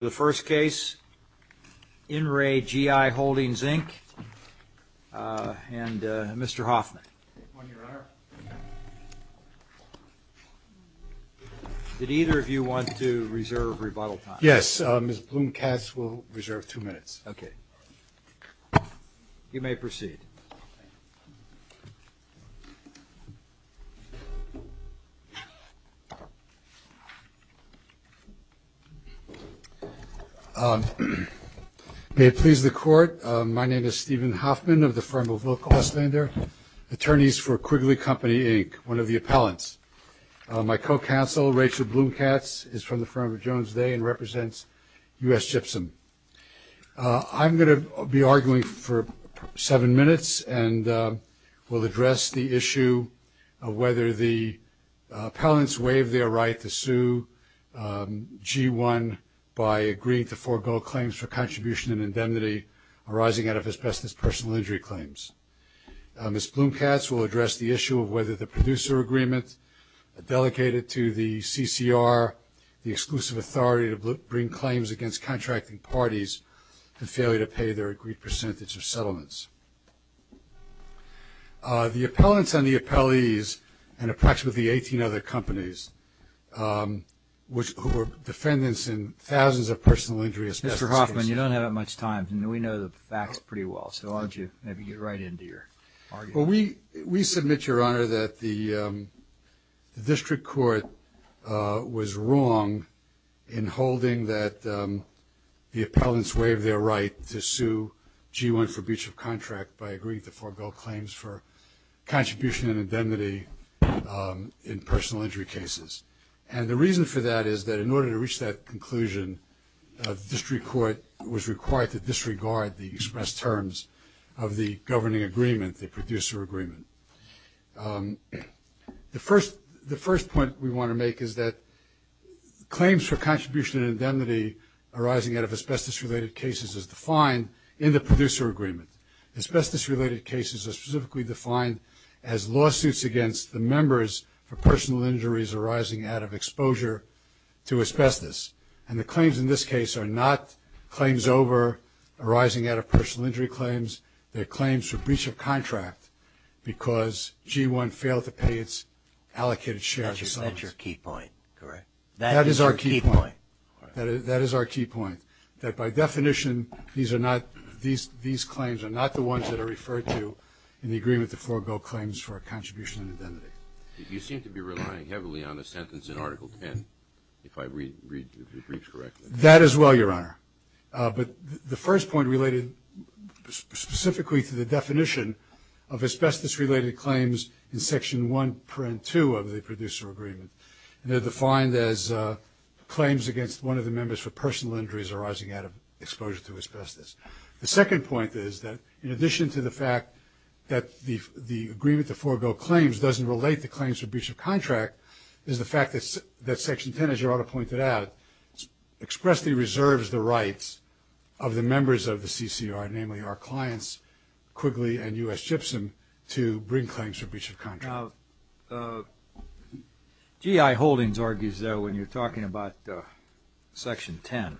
The first case, InRe G-I Holdings, Inc., and Mr. Hoffman. Good morning, Your Honor. Did either of you want to reserve rebuttal time? Yes, Ms. Bloom-Katz will reserve two minutes. Okay. You may proceed. May it please the Court, my name is Stephen Hoffman of the firm of Will Kostander, attorneys for Quigley Company, Inc., one of the appellants. My co-counsel, Rachel Bloom-Katz, is from the firm of Jones Day and represents U.S. Gypsum. I'm going to be arguing for seven minutes and will address the issue of whether the appellants waive their right to sue G-I by agreeing to forego claims for contribution and indemnity arising out of asbestos personal injury claims. Ms. Bloom-Katz will address the issue of whether the producer agreement delegated to the CCR, the exclusive authority to bring claims against contracting parties, and failure to pay their agreed percentage of settlements. The appellants and the appellees and approximately 18 other companies, who were defendants in thousands of personal injury asbestos cases. Mr. Hoffman, you don't have that much time. We know the facts pretty well, so why don't you maybe get right into your argument. Well, we submit, Your Honor, that the district court was wrong in holding that the appellants waived their right to sue G-I for breach of contract by agreeing to forego claims for contribution and indemnity in personal injury cases. And the reason for that is that in order to reach that conclusion, the district court was required to disregard the express terms of the governing agreement the producer agreement. The first point we want to make is that claims for contribution and indemnity arising out of asbestos related cases is defined in the producer agreement. Asbestos related cases are specifically defined as lawsuits against the members for personal injuries arising out of exposure to asbestos. And the claims in this case are not claims over arising out of personal injury claims. They're claims for breach of contract because G-I failed to pay its allocated shares. That's your key point, correct? That is our key point. That is our key point, that by definition these claims are not the ones that are referred to in the agreement to forego claims for contribution and indemnity. You seem to be relying heavily on a sentence in Article 10, if I read the briefs correctly. That as well, Your Honor. But the first point related specifically to the definition of asbestos related claims in Section 1.2 of the producer agreement. They're defined as claims against one of the members for personal injuries arising out of exposure to asbestos. The second point is that in addition to the fact that the agreement to forego claims doesn't relate to claims for breach of contract is the fact that Section 10, as Your Honor pointed out, expressly reserves the rights of the members of the CCR, namely our clients Quigley and U.S. Gibson, to bring claims for breach of contract. G.I. Holdings argues, though, when you're talking about Section 10,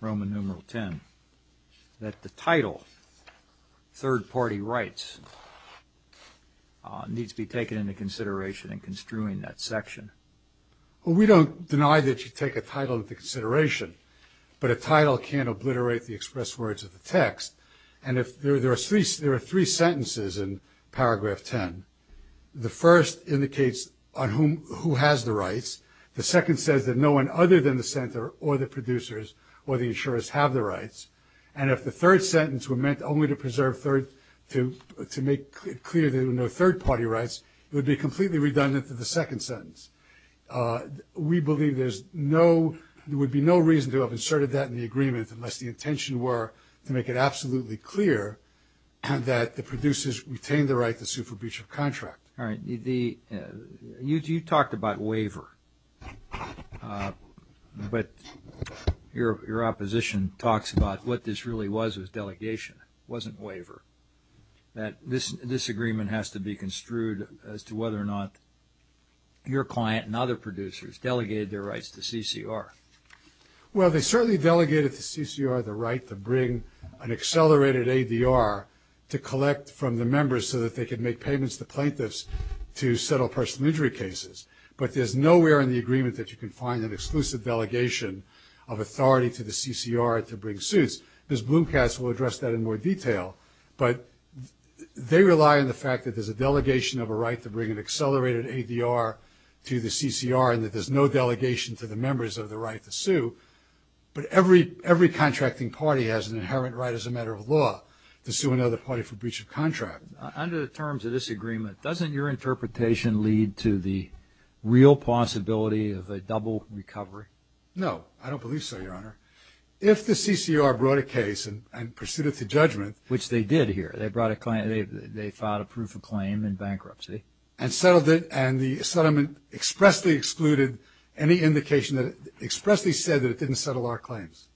Roman numeral 10, that the title, third-party rights, needs to be taken into consideration in construing that section. Well, we don't deny that you take a title into consideration, but a title can't obliterate the express words of the text. And there are three sentences in Paragraph 10. The first indicates who has the rights. The second says that no one other than the center or the producers or the insurers have the rights. And if the third sentence were meant only to preserve, to make it clear there were no third-party rights, it would be completely redundant to the second sentence. We believe there's no – there would be no reason to have inserted that in the agreement unless the intention were to make it absolutely clear that the producers retain the right to sue for breach of contract. All right. You talked about waiver, but your opposition talks about what this really was with delegation. It wasn't waiver. That this agreement has to be construed as to whether or not your client and other producers delegated their rights to CCR. Well, they certainly delegated to CCR the right to bring an accelerated ADR to collect from the members so that they could make payments to plaintiffs to settle personal injury cases. But there's nowhere in the agreement that you can find an exclusive delegation of authority to the CCR to bring suits. Ms. Bloomcast will address that in more detail. But they rely on the fact that there's a delegation of a right to bring an accelerated ADR to the CCR and that there's no delegation to the members of the right to sue. But every contracting party has an inherent right as a matter of law to sue another party for breach of contract. Under the terms of this agreement, doesn't your interpretation lead to the real possibility of a double recovery? No, I don't believe so, Your Honor. If the CCR brought a case and pursued it to judgment. Which they did here. They brought a claim. They filed a proof of claim in bankruptcy. And settled it. And the settlement expressly excluded any indication that it expressly said that it didn't settle our claims.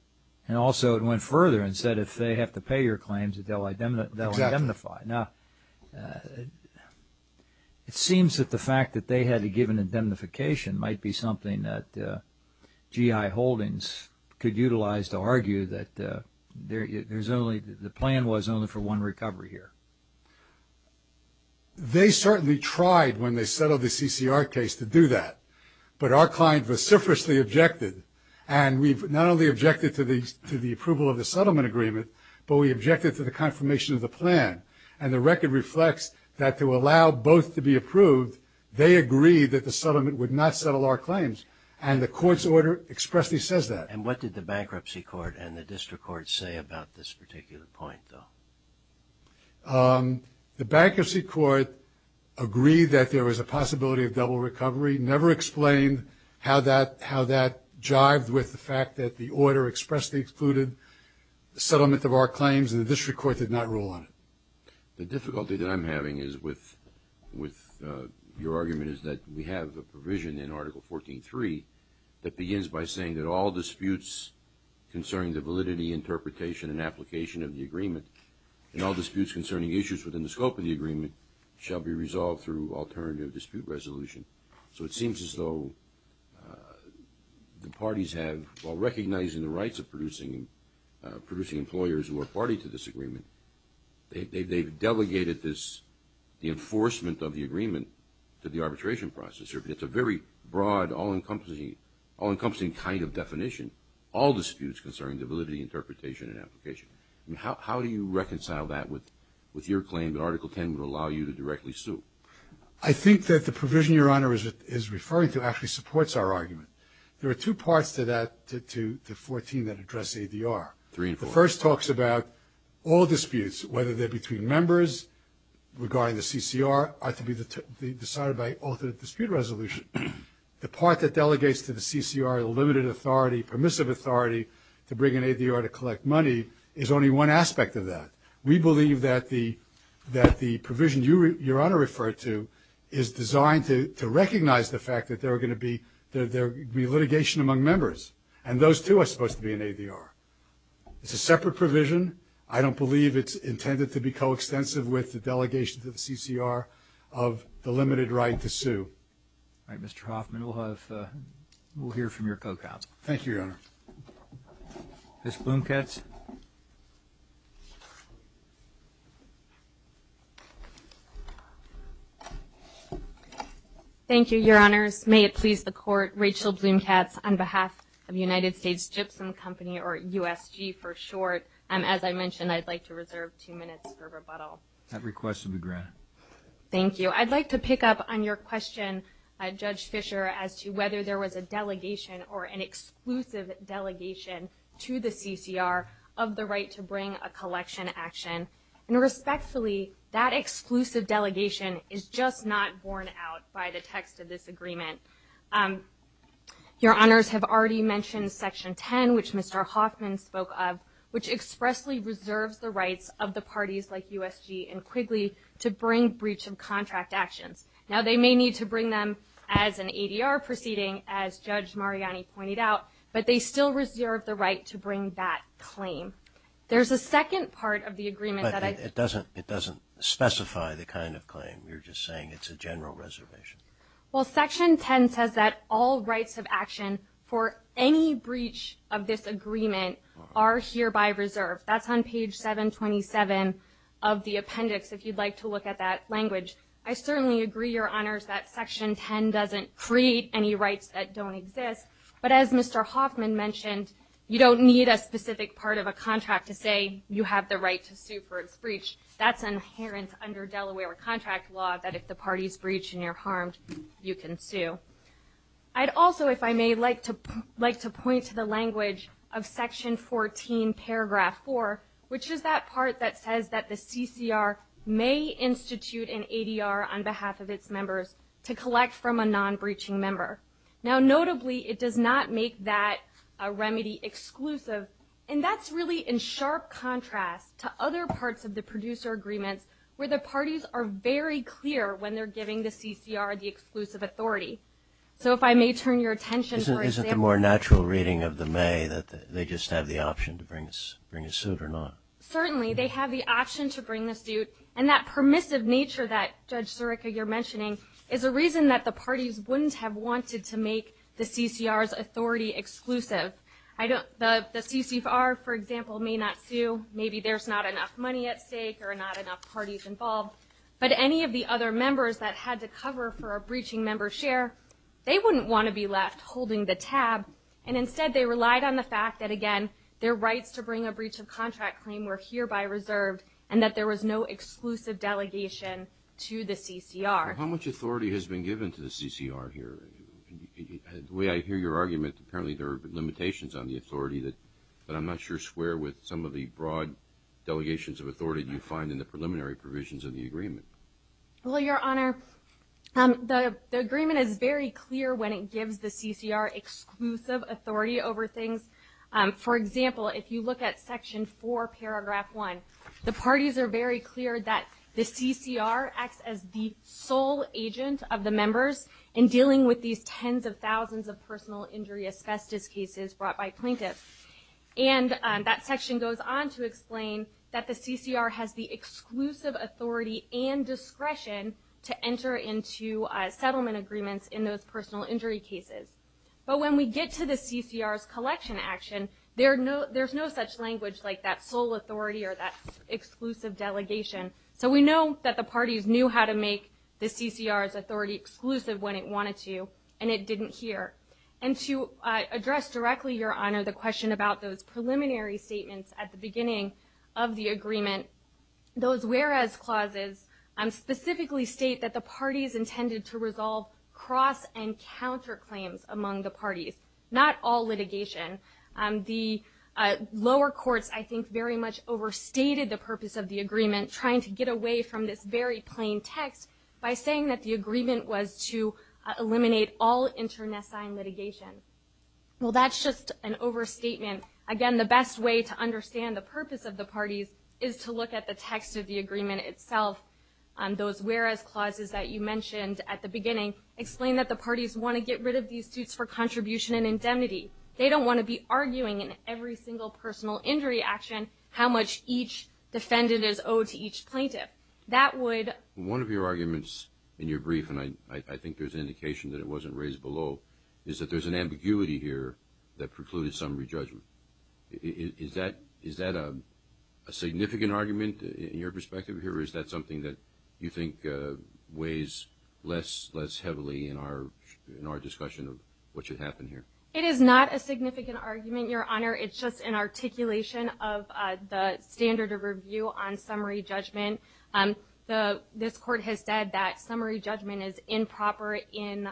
And also it went further and said if they have to pay your claims that they'll indemnify. Exactly. Now, it seems that the fact that they had to give an indemnification might be something that G.I. Holdings could utilize to argue that the plan was only for one recovery here. They certainly tried when they settled the CCR case to do that. But our client vociferously objected. And we've not only objected to the approval of the settlement agreement, but we objected to the confirmation of the plan. And the record reflects that to allow both to be approved, they agreed that the settlement would not settle our claims. And the court's order expressly says that. And what did the bankruptcy court and the district court say about this particular point, though? The bankruptcy court agreed that there was a possibility of double recovery. Never explained how that jived with the fact that the order expressly excluded the settlement of our claims, and the district court did not rule on it. The difficulty that I'm having with your argument is that we have a provision in Article 14.3 that begins by saying that all disputes concerning the validity, interpretation, and application of the agreement and all disputes concerning issues within the scope of the agreement shall be resolved through alternative dispute resolution. So it seems as though the parties have, while recognizing the rights of producing employers who are party to this agreement, they've delegated the enforcement of the agreement to the arbitration process. It's a very broad, all-encompassing kind of definition, all disputes concerning the validity, interpretation, and application. How do you reconcile that with your claim that Article 10 would allow you to directly sue? I think that the provision Your Honor is referring to actually supports our argument. There are two parts to that, to 14, that address ADR. Three and four. The first talks about all disputes, whether they're between members, regarding the CCR, are to be decided by alternative dispute resolution. The part that delegates to the CCR a limited authority, permissive authority, to bring in ADR to collect money is only one aspect of that. We believe that the provision Your Honor referred to is designed to recognize the fact that there are going to be litigation among members, and those two are supposed to be in ADR. It's a separate provision. I don't believe it's intended to be coextensive with the delegation to the CCR of the limited right to sue. All right. Mr. Hoffman, we'll hear from your co-cop. Thank you, Your Honor. Ms. Blumkatz. Thank you, Your Honors. May it please the Court, Rachel Blumkatz on behalf of United States Gypsum Company, or USG for short. As I mentioned, I'd like to reserve two minutes for rebuttal. That request will be granted. Thank you. I'd like to pick up on your question, Judge Fischer, as to whether there was a delegation or an exclusive delegation to the CCR of the right to bring a collection action. And respectfully, that exclusive delegation is just not borne out by the text of this agreement. Your Honors have already mentioned Section 10, which Mr. Hoffman spoke of, which expressly reserves the rights of the parties like USG and Quigley to bring breach of contract actions. Now, they may need to bring them as an ADR proceeding, as Judge Mariani pointed out, but they still reserve the right to bring that claim. There's a second part of the agreement that I – But it doesn't specify the kind of claim. You're just saying it's a general reservation. Well, Section 10 says that all rights of action for any breach of this agreement are hereby reserved. That's on page 727 of the appendix, if you'd like to look at that language. I certainly agree, Your Honors, that Section 10 doesn't create any rights that don't exist. But as Mr. Hoffman mentioned, you don't need a specific part of a contract to say you have the right to sue for its breach. That's inherent under Delaware contract law, that if the party's breached and you're harmed, you can sue. I'd also, if I may, like to point to the language of Section 14, Paragraph 4, which is that part that says that the CCR may institute an ADR on behalf of its members to collect from a non-breaching member. Now, notably, it does not make that a remedy exclusive, and that's really in sharp contrast to other parts of the producer agreements where the parties are very clear when they're giving the CCR the exclusive authority. So if I may turn your attention, for example – Certainly, they have the option to bring the suit, and that permissive nature that, Judge Zureka, you're mentioning, is a reason that the parties wouldn't have wanted to make the CCR's authority exclusive. The CCR, for example, may not sue. Maybe there's not enough money at stake or not enough parties involved, but any of the other members that had to cover for a breaching member's share, they wouldn't want to be left holding the tab, and instead they relied on the fact that, again, their rights to bring a breach of contract claim were hereby reserved and that there was no exclusive delegation to the CCR. How much authority has been given to the CCR here? The way I hear your argument, apparently there are limitations on the authority, but I'm not sure where with some of the broad delegations of authority you find in the preliminary provisions of the agreement. Well, Your Honor, the agreement is very clear when it gives the CCR exclusive authority over things. For example, if you look at Section 4, Paragraph 1, the parties are very clear that the CCR acts as the sole agent of the members in dealing with these tens of thousands of personal injury asbestos cases brought by plaintiffs, and that section goes on to explain that the CCR has the exclusive authority and discretion to enter into settlement agreements in those personal injury cases. But when we get to the CCR's collection action, there's no such language like that sole authority or that exclusive delegation. So we know that the parties knew how to make the CCR's authority exclusive when it wanted to, and it didn't here. And to address directly, Your Honor, the question about those preliminary statements at the beginning of the agreement, those whereas clauses specifically state that the parties intended to resolve cross and counter claims among the parties, not all litigation. The lower courts, I think, very much overstated the purpose of the agreement, trying to get away from this very plain text by saying that the agreement was to eliminate all internecine litigation. Well, that's just an overstatement. Again, the best way to understand the purpose of the parties is to look at the text of the agreement itself. Those whereas clauses that you mentioned at the beginning explain that the parties want to get rid of these suits for contribution and indemnity. They don't want to be arguing in every single personal injury action how much each defendant is owed to each plaintiff. One of your arguments in your brief, and I think there's an indication that it wasn't raised below, is that there's an ambiguity here that precluded summary judgment. Is that a significant argument in your perspective here, or is that something that you think weighs less heavily in our discussion of what should happen here? It is not a significant argument, Your Honor. It's just an articulation of the standard of review on summary judgment. This Court has said that summary judgment is improper in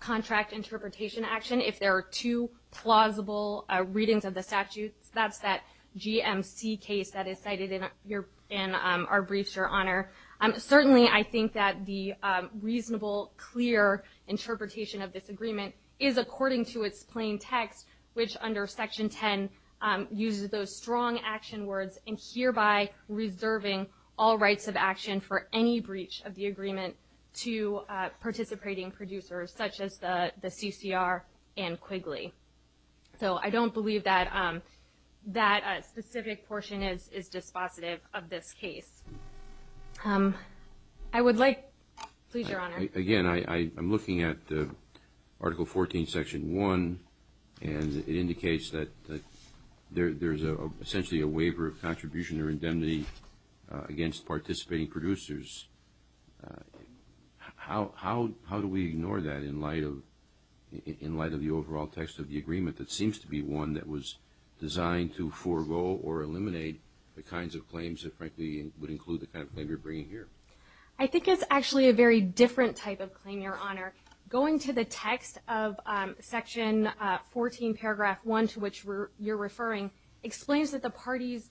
contract interpretation action if there are two plausible readings of the statutes. That's that GMC case that is cited in our briefs, Your Honor. Certainly, I think that the reasonable, clear interpretation of this agreement is according to its plain text, which under Section 10 uses those strong action words and hereby reserving all rights of action for any breach of the agreement to participating producers, such as the CCR and Quigley. So I don't believe that that specific portion is dispositive of this case. I would like, please, Your Honor. Again, I'm looking at Article 14, Section 1, and it indicates that there's essentially a waiver of contribution or indemnity against participating producers. How do we ignore that in light of the overall text of the agreement that seems to be one that was designed to forego or eliminate the kinds of claims that frankly would include the kind of claim you're bringing here? I think it's actually a very different type of claim, Your Honor. Going to the text of Section 14, Paragraph 1, to which you're referring, explains that the parties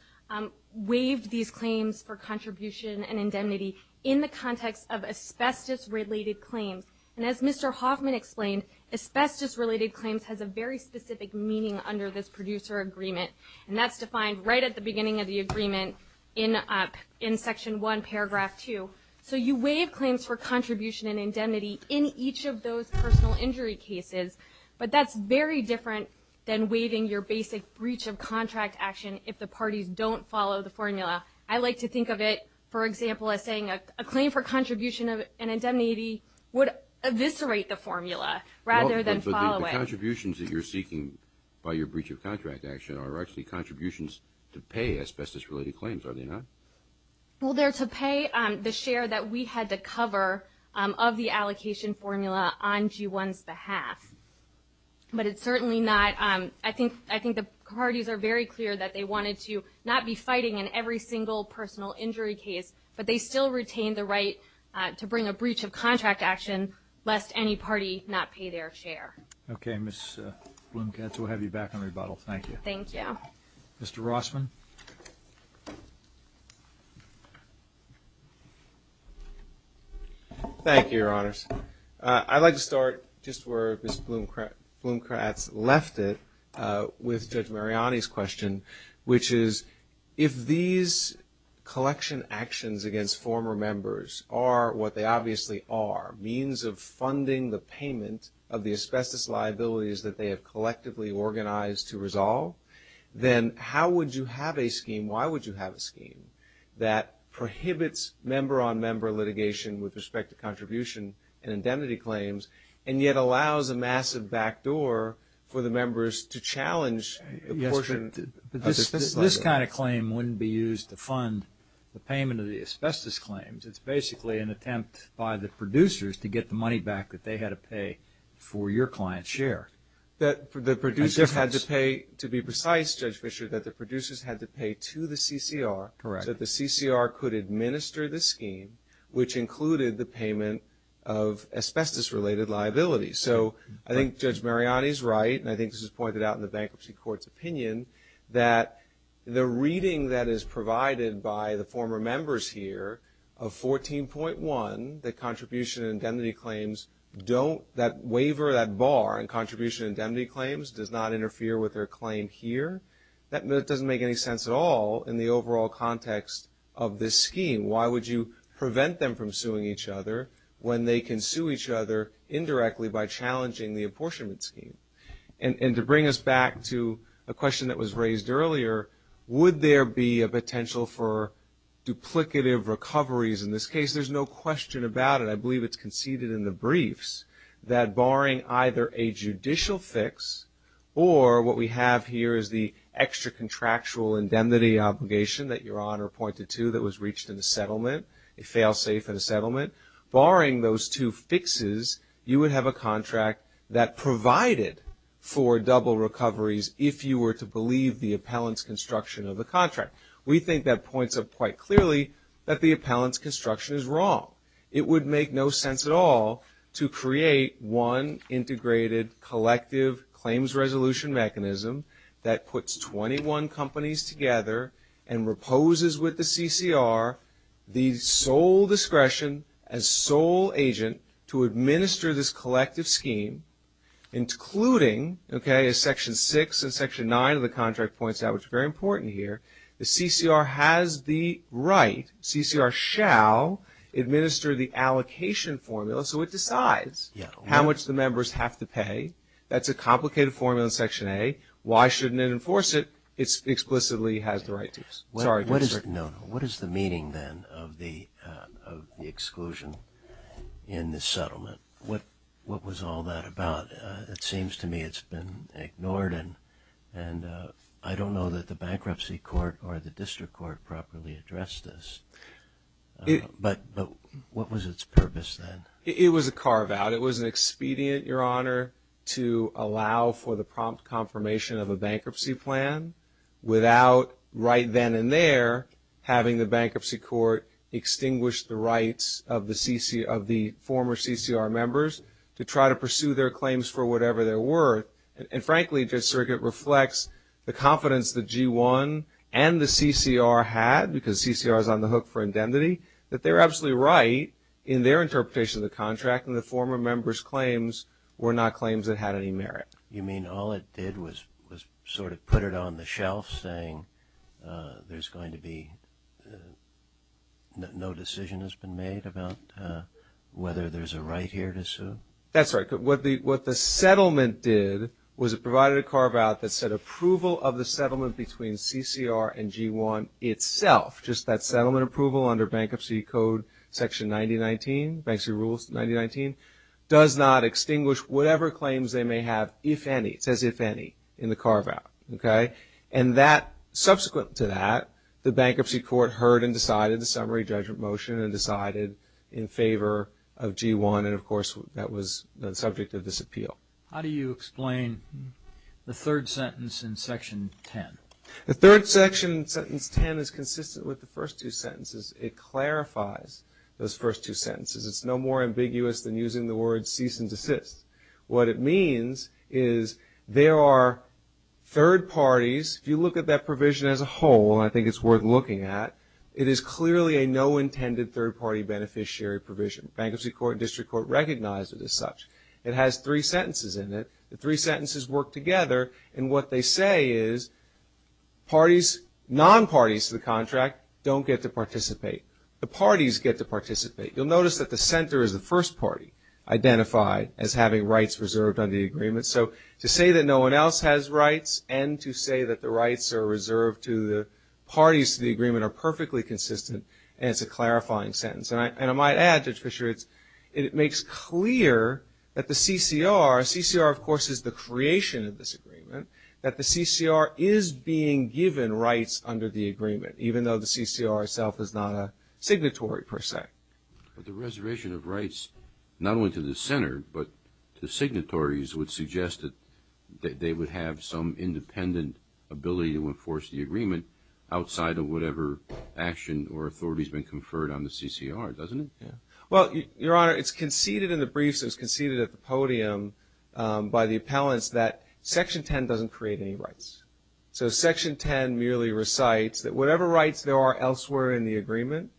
waived these claims for contribution and indemnity in the context of asbestos-related claims. And as Mr. Hoffman explained, asbestos-related claims has a very specific meaning under this producer agreement, and that's defined right at the beginning of the agreement in Section 1, Paragraph 2. So you waive claims for contribution and indemnity in each of those personal injury cases, but that's very different than waiving your basic breach of contract action if the parties don't follow the formula. I like to think of it, for example, as saying a claim for contribution and indemnity would eviscerate the formula rather than follow it. But the contributions that you're seeking by your breach of contract action are actually contributions to pay asbestos-related claims, are they not? Well, they're to pay the share that we had to cover of the allocation formula on G1's behalf. But it's certainly not. I think the parties are very clear that they wanted to not be fighting in every single personal injury case, but they still retain the right to bring a breach of contract action lest any party not pay their share. Okay, Ms. Blumkatz, we'll have you back on rebuttal. Thank you. Thank you. Mr. Rossman. Thank you, Your Honors. I'd like to start just where Ms. Blumkatz left it with Judge Mariani's question, which is if these collection actions against former members are what they obviously are, a means of funding the payment of the asbestos liabilities that they have collectively organized to resolve, then how would you have a scheme, why would you have a scheme that prohibits member-on-member litigation with respect to contribution and indemnity claims, and yet allows a massive backdoor for the members to challenge the portion of the asbestos liability? Yes, but this kind of claim wouldn't be used to fund the payment of the asbestos claims. It's basically an attempt by the producers to get the money back that they had to pay for your client's share. The producers had to pay, to be precise, Judge Fischer, that the producers had to pay to the CCR. Correct. So that the CCR could administer the scheme, which included the payment of asbestos-related liabilities. So I think Judge Mariani is right, and I think this was pointed out in the Bankruptcy Court's opinion, that the reading that is provided by the former members here of 14.1, that contribution and indemnity claims don't, that waiver, that bar in contribution and indemnity claims, does not interfere with their claim here. That doesn't make any sense at all in the overall context of this scheme. Why would you prevent them from suing each other when they can sue each other indirectly by challenging the apportionment scheme? And to bring us back to a question that was raised earlier, would there be a potential for duplicative recoveries in this case? There's no question about it. I believe it's conceded in the briefs that barring either a judicial fix, or what we have here is the extra-contractual indemnity obligation that Your Honor pointed to that was reached in the settlement, a fail-safe in the settlement. Barring those two fixes, you would have a contract that provided for double recoveries if you were to believe the appellant's construction of the contract. We think that points out quite clearly that the appellant's construction is wrong. It would make no sense at all to create one integrated, collective claims resolution mechanism that puts 21 companies together and proposes with the CCR the sole discretion as sole agent to administer this collective scheme, including, okay, as Section 6 and Section 9 of the contract points out, which is very important here, the CCR has the right, CCR shall administer the allocation formula, so it decides how much the members have to pay. That's a complicated formula in Section A. Why shouldn't it enforce it? It explicitly has the right to. Sorry, go ahead, sir. What is the meaning, then, of the exclusion in the settlement? What was all that about? It seems to me it's been ignored, and I don't know that the Bankruptcy Court or the District Court properly addressed this. But what was its purpose, then? It was a carve-out. It was an expedient, Your Honor, to allow for the prompt confirmation of a bankruptcy plan without right then and there having the Bankruptcy Court extinguish the rights of the former CCR members to try to pursue their claims for whatever they're worth. And, frankly, this circuit reflects the confidence that G1 and the CCR had, that they're absolutely right in their interpretation of the contract, and the former members' claims were not claims that had any merit. You mean all it did was sort of put it on the shelf, saying there's going to be no decision has been made about whether there's a right here to sue? That's right. What the settlement did was it provided a carve-out that said approval of the settlement between CCR and G1 itself, just that settlement approval under Bankruptcy Code Section 9019, Bankruptcy Rules 9019, does not extinguish whatever claims they may have, if any. It says if any in the carve-out, okay? And subsequent to that, the Bankruptcy Court heard and decided the summary judgment motion and decided in favor of G1, and, of course, that was the subject of this appeal. How do you explain the third sentence in Section 10? The third section in Sentence 10 is consistent with the first two sentences. It clarifies those first two sentences. It's no more ambiguous than using the word cease and desist. What it means is there are third parties. If you look at that provision as a whole, and I think it's worth looking at, it is clearly a no-intended third-party beneficiary provision. Bankruptcy Court and District Court recognize it as such. It has three sentences in it. The three sentences work together, and what they say is parties, non-parties to the contract don't get to participate. The parties get to participate. You'll notice that the center is the first party, identified as having rights reserved under the agreement. So to say that no one else has rights and to say that the rights are reserved to the parties to the agreement are perfectly consistent, and it's a clarifying sentence. And I might add, Judge Fischer, it makes clear that the CCR, CCR of course is the creation of this agreement, that the CCR is being given rights under the agreement, even though the CCR itself is not a signatory per se. But the reservation of rights not only to the center, but to signatories would suggest that they would have some independent ability to enforce the agreement outside of whatever action or authority has been conferred on the CCR, doesn't it? Well, Your Honor, it's conceded in the briefs. It was conceded at the podium by the appellants that Section 10 doesn't create any rights. So Section 10 merely recites that whatever rights there are elsewhere in the agreement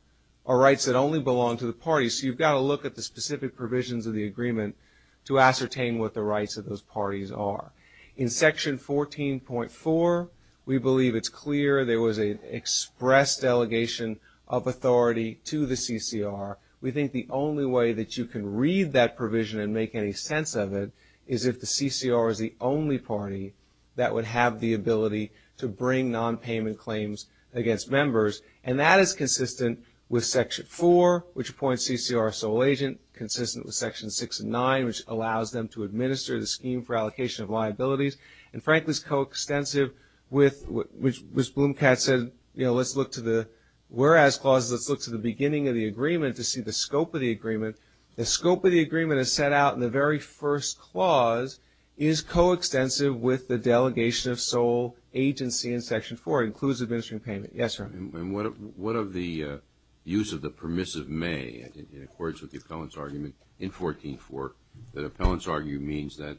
are rights that only belong to the parties. So you've got to look at the specific provisions of the agreement to ascertain what the rights of those parties are. In Section 14.4, we believe it's clear there was an express delegation of authority to the CCR. We think the only way that you can read that provision and make any sense of it is if the CCR is the only party that would have the ability to bring nonpayment claims against members. And that is consistent with Section 4, which appoints CCR a sole agent, consistent with Section 6 and 9, which allows them to administer the scheme for allocation of liabilities, and frankly is coextensive with what Ms. Blomkat said, you know, let's look to the whereas clause, let's look to the beginning of the agreement to see the scope of the agreement. The scope of the agreement is set out in the very first clause, is coextensive with the delegation of sole agency in Section 4, includes administering payment. Yes, sir. And what of the use of the permissive may in accordance with the appellant's argument in 14.4? The appellant's argument means that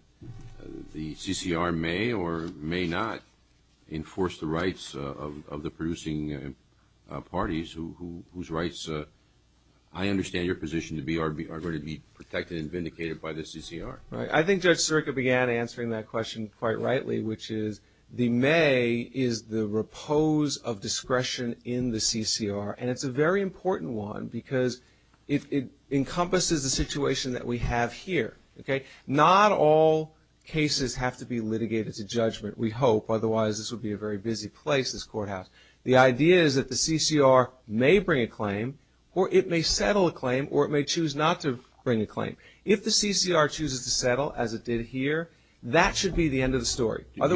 the CCR may or may not enforce the rights of the producing parties whose rights I understand your position to be are going to be protected and vindicated by the CCR. I think Judge Sirica began answering that question quite rightly, which is the may is the repose of discretion in the CCR, and it's a very important one because it encompasses the situation that we have here. Not all cases have to be litigated to judgment, we hope, otherwise this would be a very busy place, this courthouse. The idea is that the CCR may bring a claim or it may settle a claim or it may choose not to bring a claim. If the CCR chooses to settle as it did here, that should be the end of the story. Do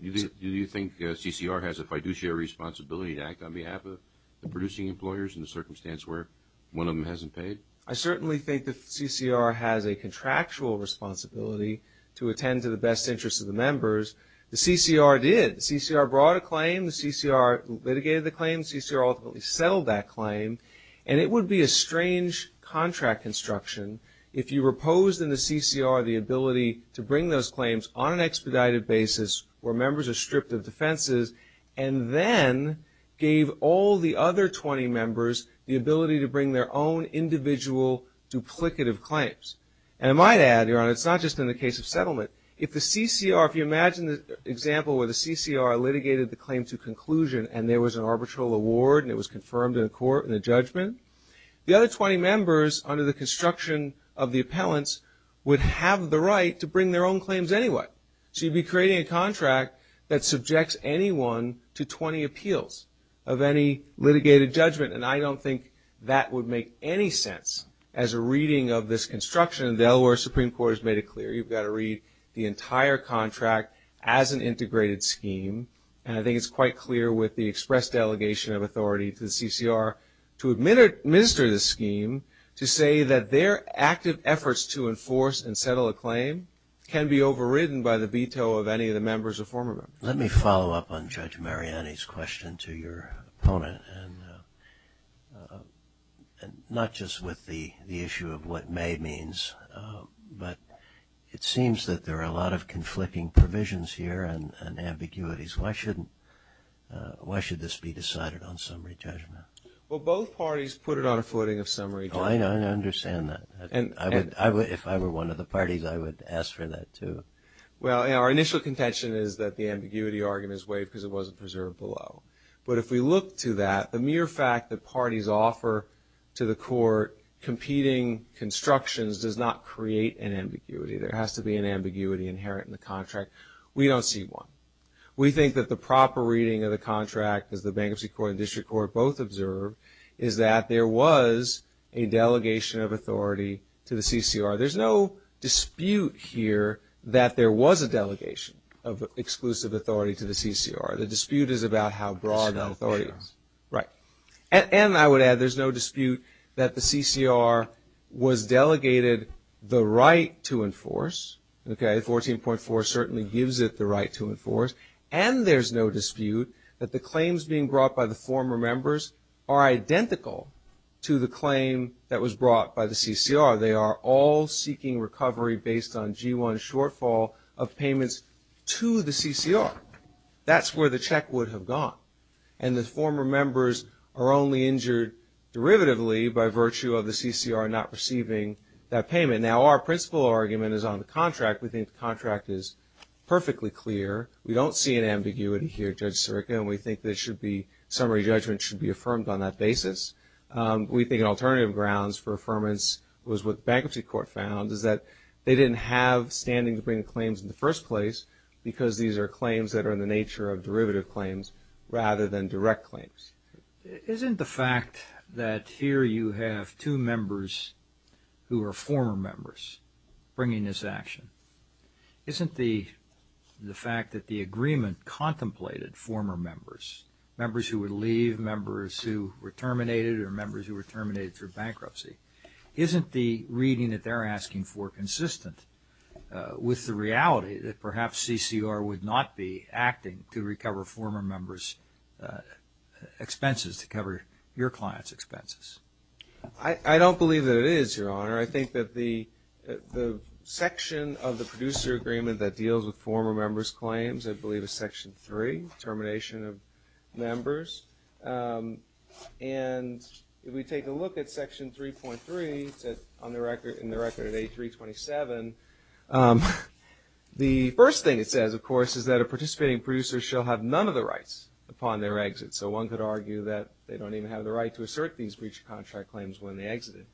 you think the CCR has a fiduciary responsibility to act on behalf of the producing employers in the circumstance where one of them hasn't paid? I certainly think the CCR has a contractual responsibility to attend to the best interests of the members. The CCR did. The CCR brought a claim, the CCR litigated the claim, the CCR ultimately settled that claim, and it would be a strange contract construction if you reposed in the CCR the ability to bring those claims on an expedited basis where members are stripped of defenses and then gave all the other 20 members the ability to bring their own individual duplicative claims. And I might add, Your Honor, it's not just in the case of settlement. If the CCR, if you imagine the example where the CCR litigated the claim to conclusion and there was an arbitral award and it was confirmed in a court in a judgment, the other 20 members under the construction of the appellants would have the right to bring their own claims anyway. So you'd be creating a contract that subjects anyone to 20 appeals of any litigated judgment, and I don't think that would make any sense as a reading of this construction. The Delaware Supreme Court has made it clear. You've got to read the entire contract as an integrated scheme, and I think it's quite clear with the express delegation of authority to the CCR to administer this scheme to say that their active efforts to enforce and settle a claim can be overridden by the veto of any of the members or former members. Let me follow up on Judge Mariani's question to your opponent, and not just with the issue of what may means, but it seems that there are a lot of conflicting provisions here and ambiguities. Why should this be decided on summary judgment? Well, both parties put it on a footing of summary judgment. I understand that. If I were one of the parties, I would ask for that, too. Well, our initial contention is that the ambiguity argument is waived because it wasn't preserved below. But if we look to that, the mere fact that parties offer to the court competing constructions does not create an ambiguity. There has to be an ambiguity inherent in the contract. We don't see one. We think that the proper reading of the contract, as the Bankruptcy Court and District Court both observed, is that there was a delegation of authority to the CCR. There's no dispute here that there was a delegation of exclusive authority to the CCR. The dispute is about how broad the authority is. And I would add there's no dispute that the CCR was delegated the right to enforce. 14.4 certainly gives it the right to enforce. And there's no dispute that the claims being brought by the former members are identical to the claim that was brought by the CCR. They are all seeking recovery based on G1 shortfall of payments to the CCR. That's where the check would have gone. And the former members are only injured derivatively by virtue of the CCR not receiving that payment. Now, our principal argument is on the contract. We think the contract is perfectly clear. We don't see an ambiguity here, Judge Sirica, and we think that summary judgment should be affirmed on that basis. We think an alternative grounds for affirmance was what the Bankruptcy Court found, is that they didn't have standing to bring claims in the first place because these are claims that are in the nature of derivative claims rather than direct claims. Isn't the fact that here you have two members who are former members bringing this action, isn't the fact that the agreement contemplated former members, members who would leave, members who were terminated, or members who were terminated through bankruptcy, isn't the reading that they're asking for consistent with the reality that perhaps CCR would not be acting to recover former members' expenses, to cover your clients' expenses? I don't believe that it is, Your Honor. I think that the section of the producer agreement that deals with former members' claims, I believe is Section 3, termination of members. And if we take a look at Section 3.3 in the record of A327, the first thing it says, of course, is that a participating producer shall have none of the rights upon their exit. So one could argue that they don't even have the right to assert these breach of contract claims when they exited.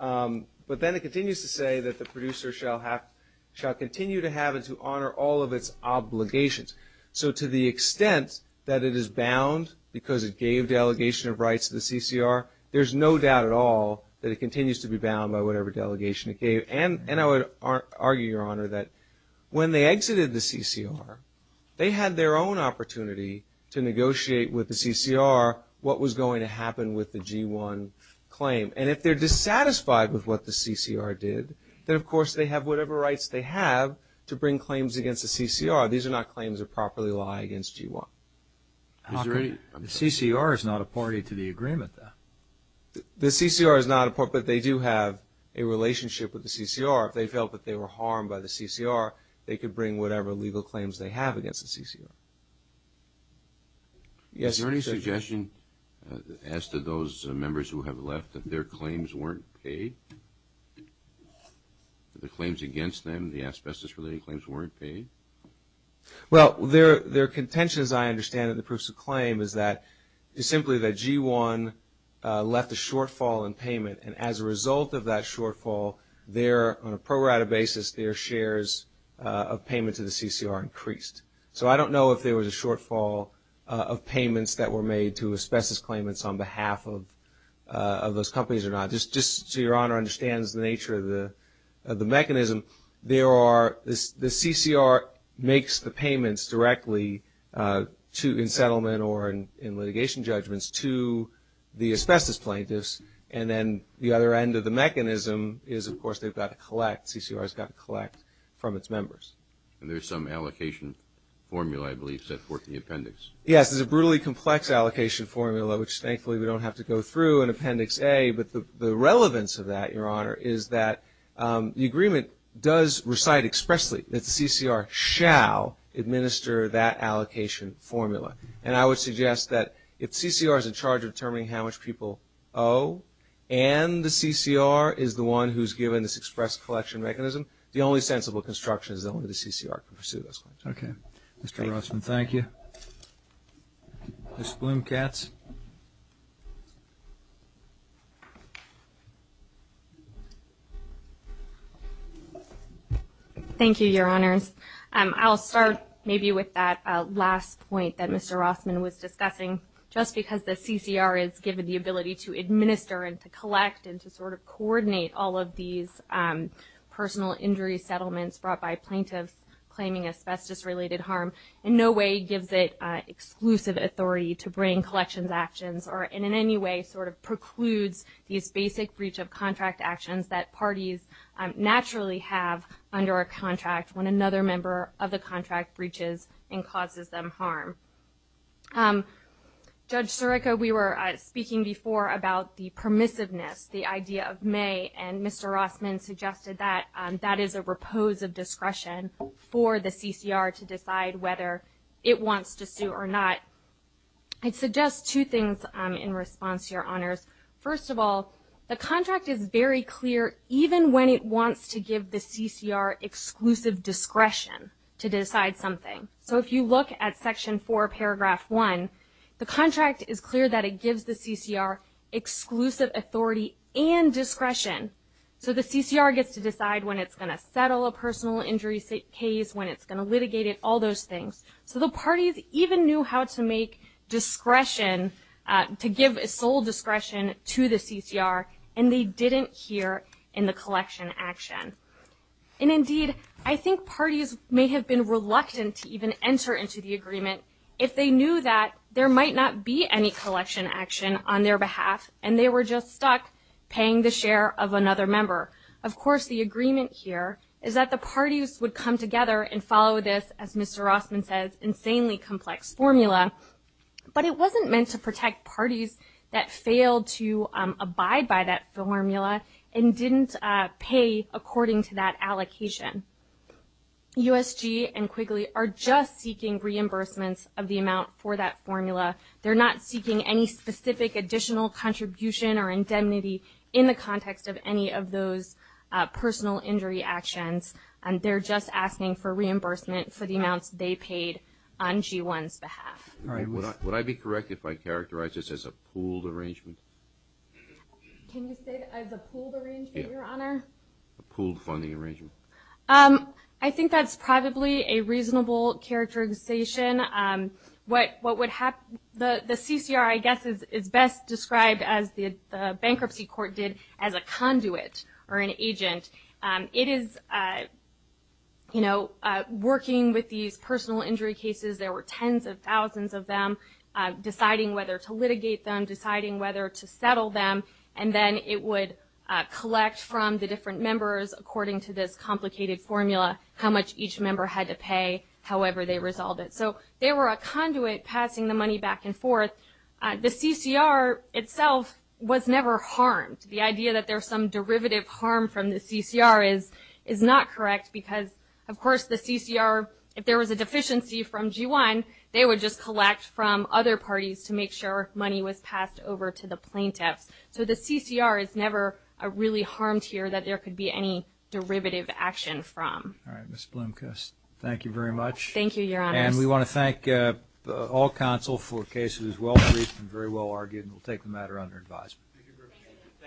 But then it continues to say that the producer shall continue to have and to honor all of its obligations. So to the extent that it is bound because it gave delegation of rights to the CCR, there's no doubt at all that it continues to be bound by whatever delegation it gave. And I would argue, Your Honor, that when they exited the CCR, they had their own opportunity to negotiate with the CCR what was going to happen with the G1 claim. And if they're dissatisfied with what the CCR did, then, of course, they have whatever rights they have to bring claims against the CCR. These are not claims that properly lie against G1. The CCR is not a party to the agreement, though. The CCR is not a party, but they do have a relationship with the CCR. If they felt that they were harmed by the CCR, they could bring whatever legal claims they have against the CCR. Is there any suggestion as to those members who have left that their claims weren't paid? The claims against them, the asbestos-related claims weren't paid? Well, their contention, as I understand it, the proofs of claim is that simply that G1 left a shortfall in payment. And as a result of that shortfall, on a pro rata basis, their shares of payment to the CCR increased. So I don't know if there was a shortfall of payments that were made to asbestos claimants on behalf of those companies or not. Just so Your Honor understands the nature of the mechanism, the CCR makes the payments directly in settlement or in litigation judgments to the asbestos plaintiffs. And then the other end of the mechanism is, of course, they've got to collect. CCR's got to collect from its members. And there's some allocation formula, I believe, set forth in the appendix. Yes, there's a brutally complex allocation formula, which thankfully we don't have to go through in Appendix A. But the relevance of that, Your Honor, is that the agreement does recite expressly that the CCR shall administer that allocation formula. And I would suggest that if CCR is in charge of determining how much people owe and the CCR is the one who's given this express collection mechanism, the only sensible construction is that only the CCR can pursue those claims. Okay. Mr. Rossman, thank you. Ms. Bloom-Katz. Thank you, Your Honors. I'll start maybe with that last point that Mr. Rossman was discussing. Just because the CCR is given the ability to administer and to collect and to sort of coordinate all of these personal injury settlements brought by plaintiffs claiming asbestos-related harm in no way gives it exclusive authority to bring collections actions or in any way sort of precludes these basic breach of contract actions that parties naturally have under a contract when another member of the contract breaches and causes them harm. Judge Sirico, we were speaking before about the permissiveness, the idea of may, and Mr. Rossman suggested that that is a repose of discretion for the CCR to decide whether it wants to sue or not. I'd suggest two things in response to Your Honors. First of all, the contract is very clear even when it wants to give the CCR exclusive discretion to decide something. So if you look at Section 4, Paragraph 1, the contract is clear that it gives the CCR exclusive authority and discretion. So the CCR gets to decide when it's going to settle a personal injury case, when it's going to litigate it, all those things. So the parties even knew how to make discretion, to give sole discretion to the CCR, and they didn't here in the collection action. And indeed, I think parties may have been reluctant to even enter into the agreement if they knew that there might not be any collection action on their behalf and they were just stuck paying the share of another member. Of course, the agreement here is that the parties would come together and follow this, as Mr. Rossman says, insanely complex formula, but it wasn't meant to protect parties that failed to abide by that formula and didn't pay according to that allocation. USG and Quigley are just seeking reimbursements of the amount for that formula. They're not seeking any specific additional contribution or indemnity in the context of any of those personal injury actions. They're just asking for reimbursement for the amounts they paid on G1's behalf. Would I be correct if I characterized this as a pooled arrangement? Can you say that as a pooled arrangement, Your Honor? A pooled funding arrangement. I think that's probably a reasonable characterization. What would happen, the CCR, I guess, is best described, as the bankruptcy court did, as a conduit or an agent. It is, you know, working with these personal injury cases, there were tens of thousands of them, deciding whether to litigate them, deciding whether to settle them, and then it would collect from the different members, according to this complicated formula, how much each member had to pay, however they resolved it. So they were a conduit passing the money back and forth. The CCR itself was never harmed. The idea that there was some derivative harm from the CCR is not correct, because, of course, the CCR, if there was a deficiency from G1, they would just collect from other parties to make sure money was passed over to the plaintiffs. So the CCR is never really harmed here that there could be any derivative action from. All right, Ms. Blomquist, thank you very much. Thank you, Your Honor. And we want to thank all counsel for a case that is well briefed and very well argued, and we'll take the matter under advisement.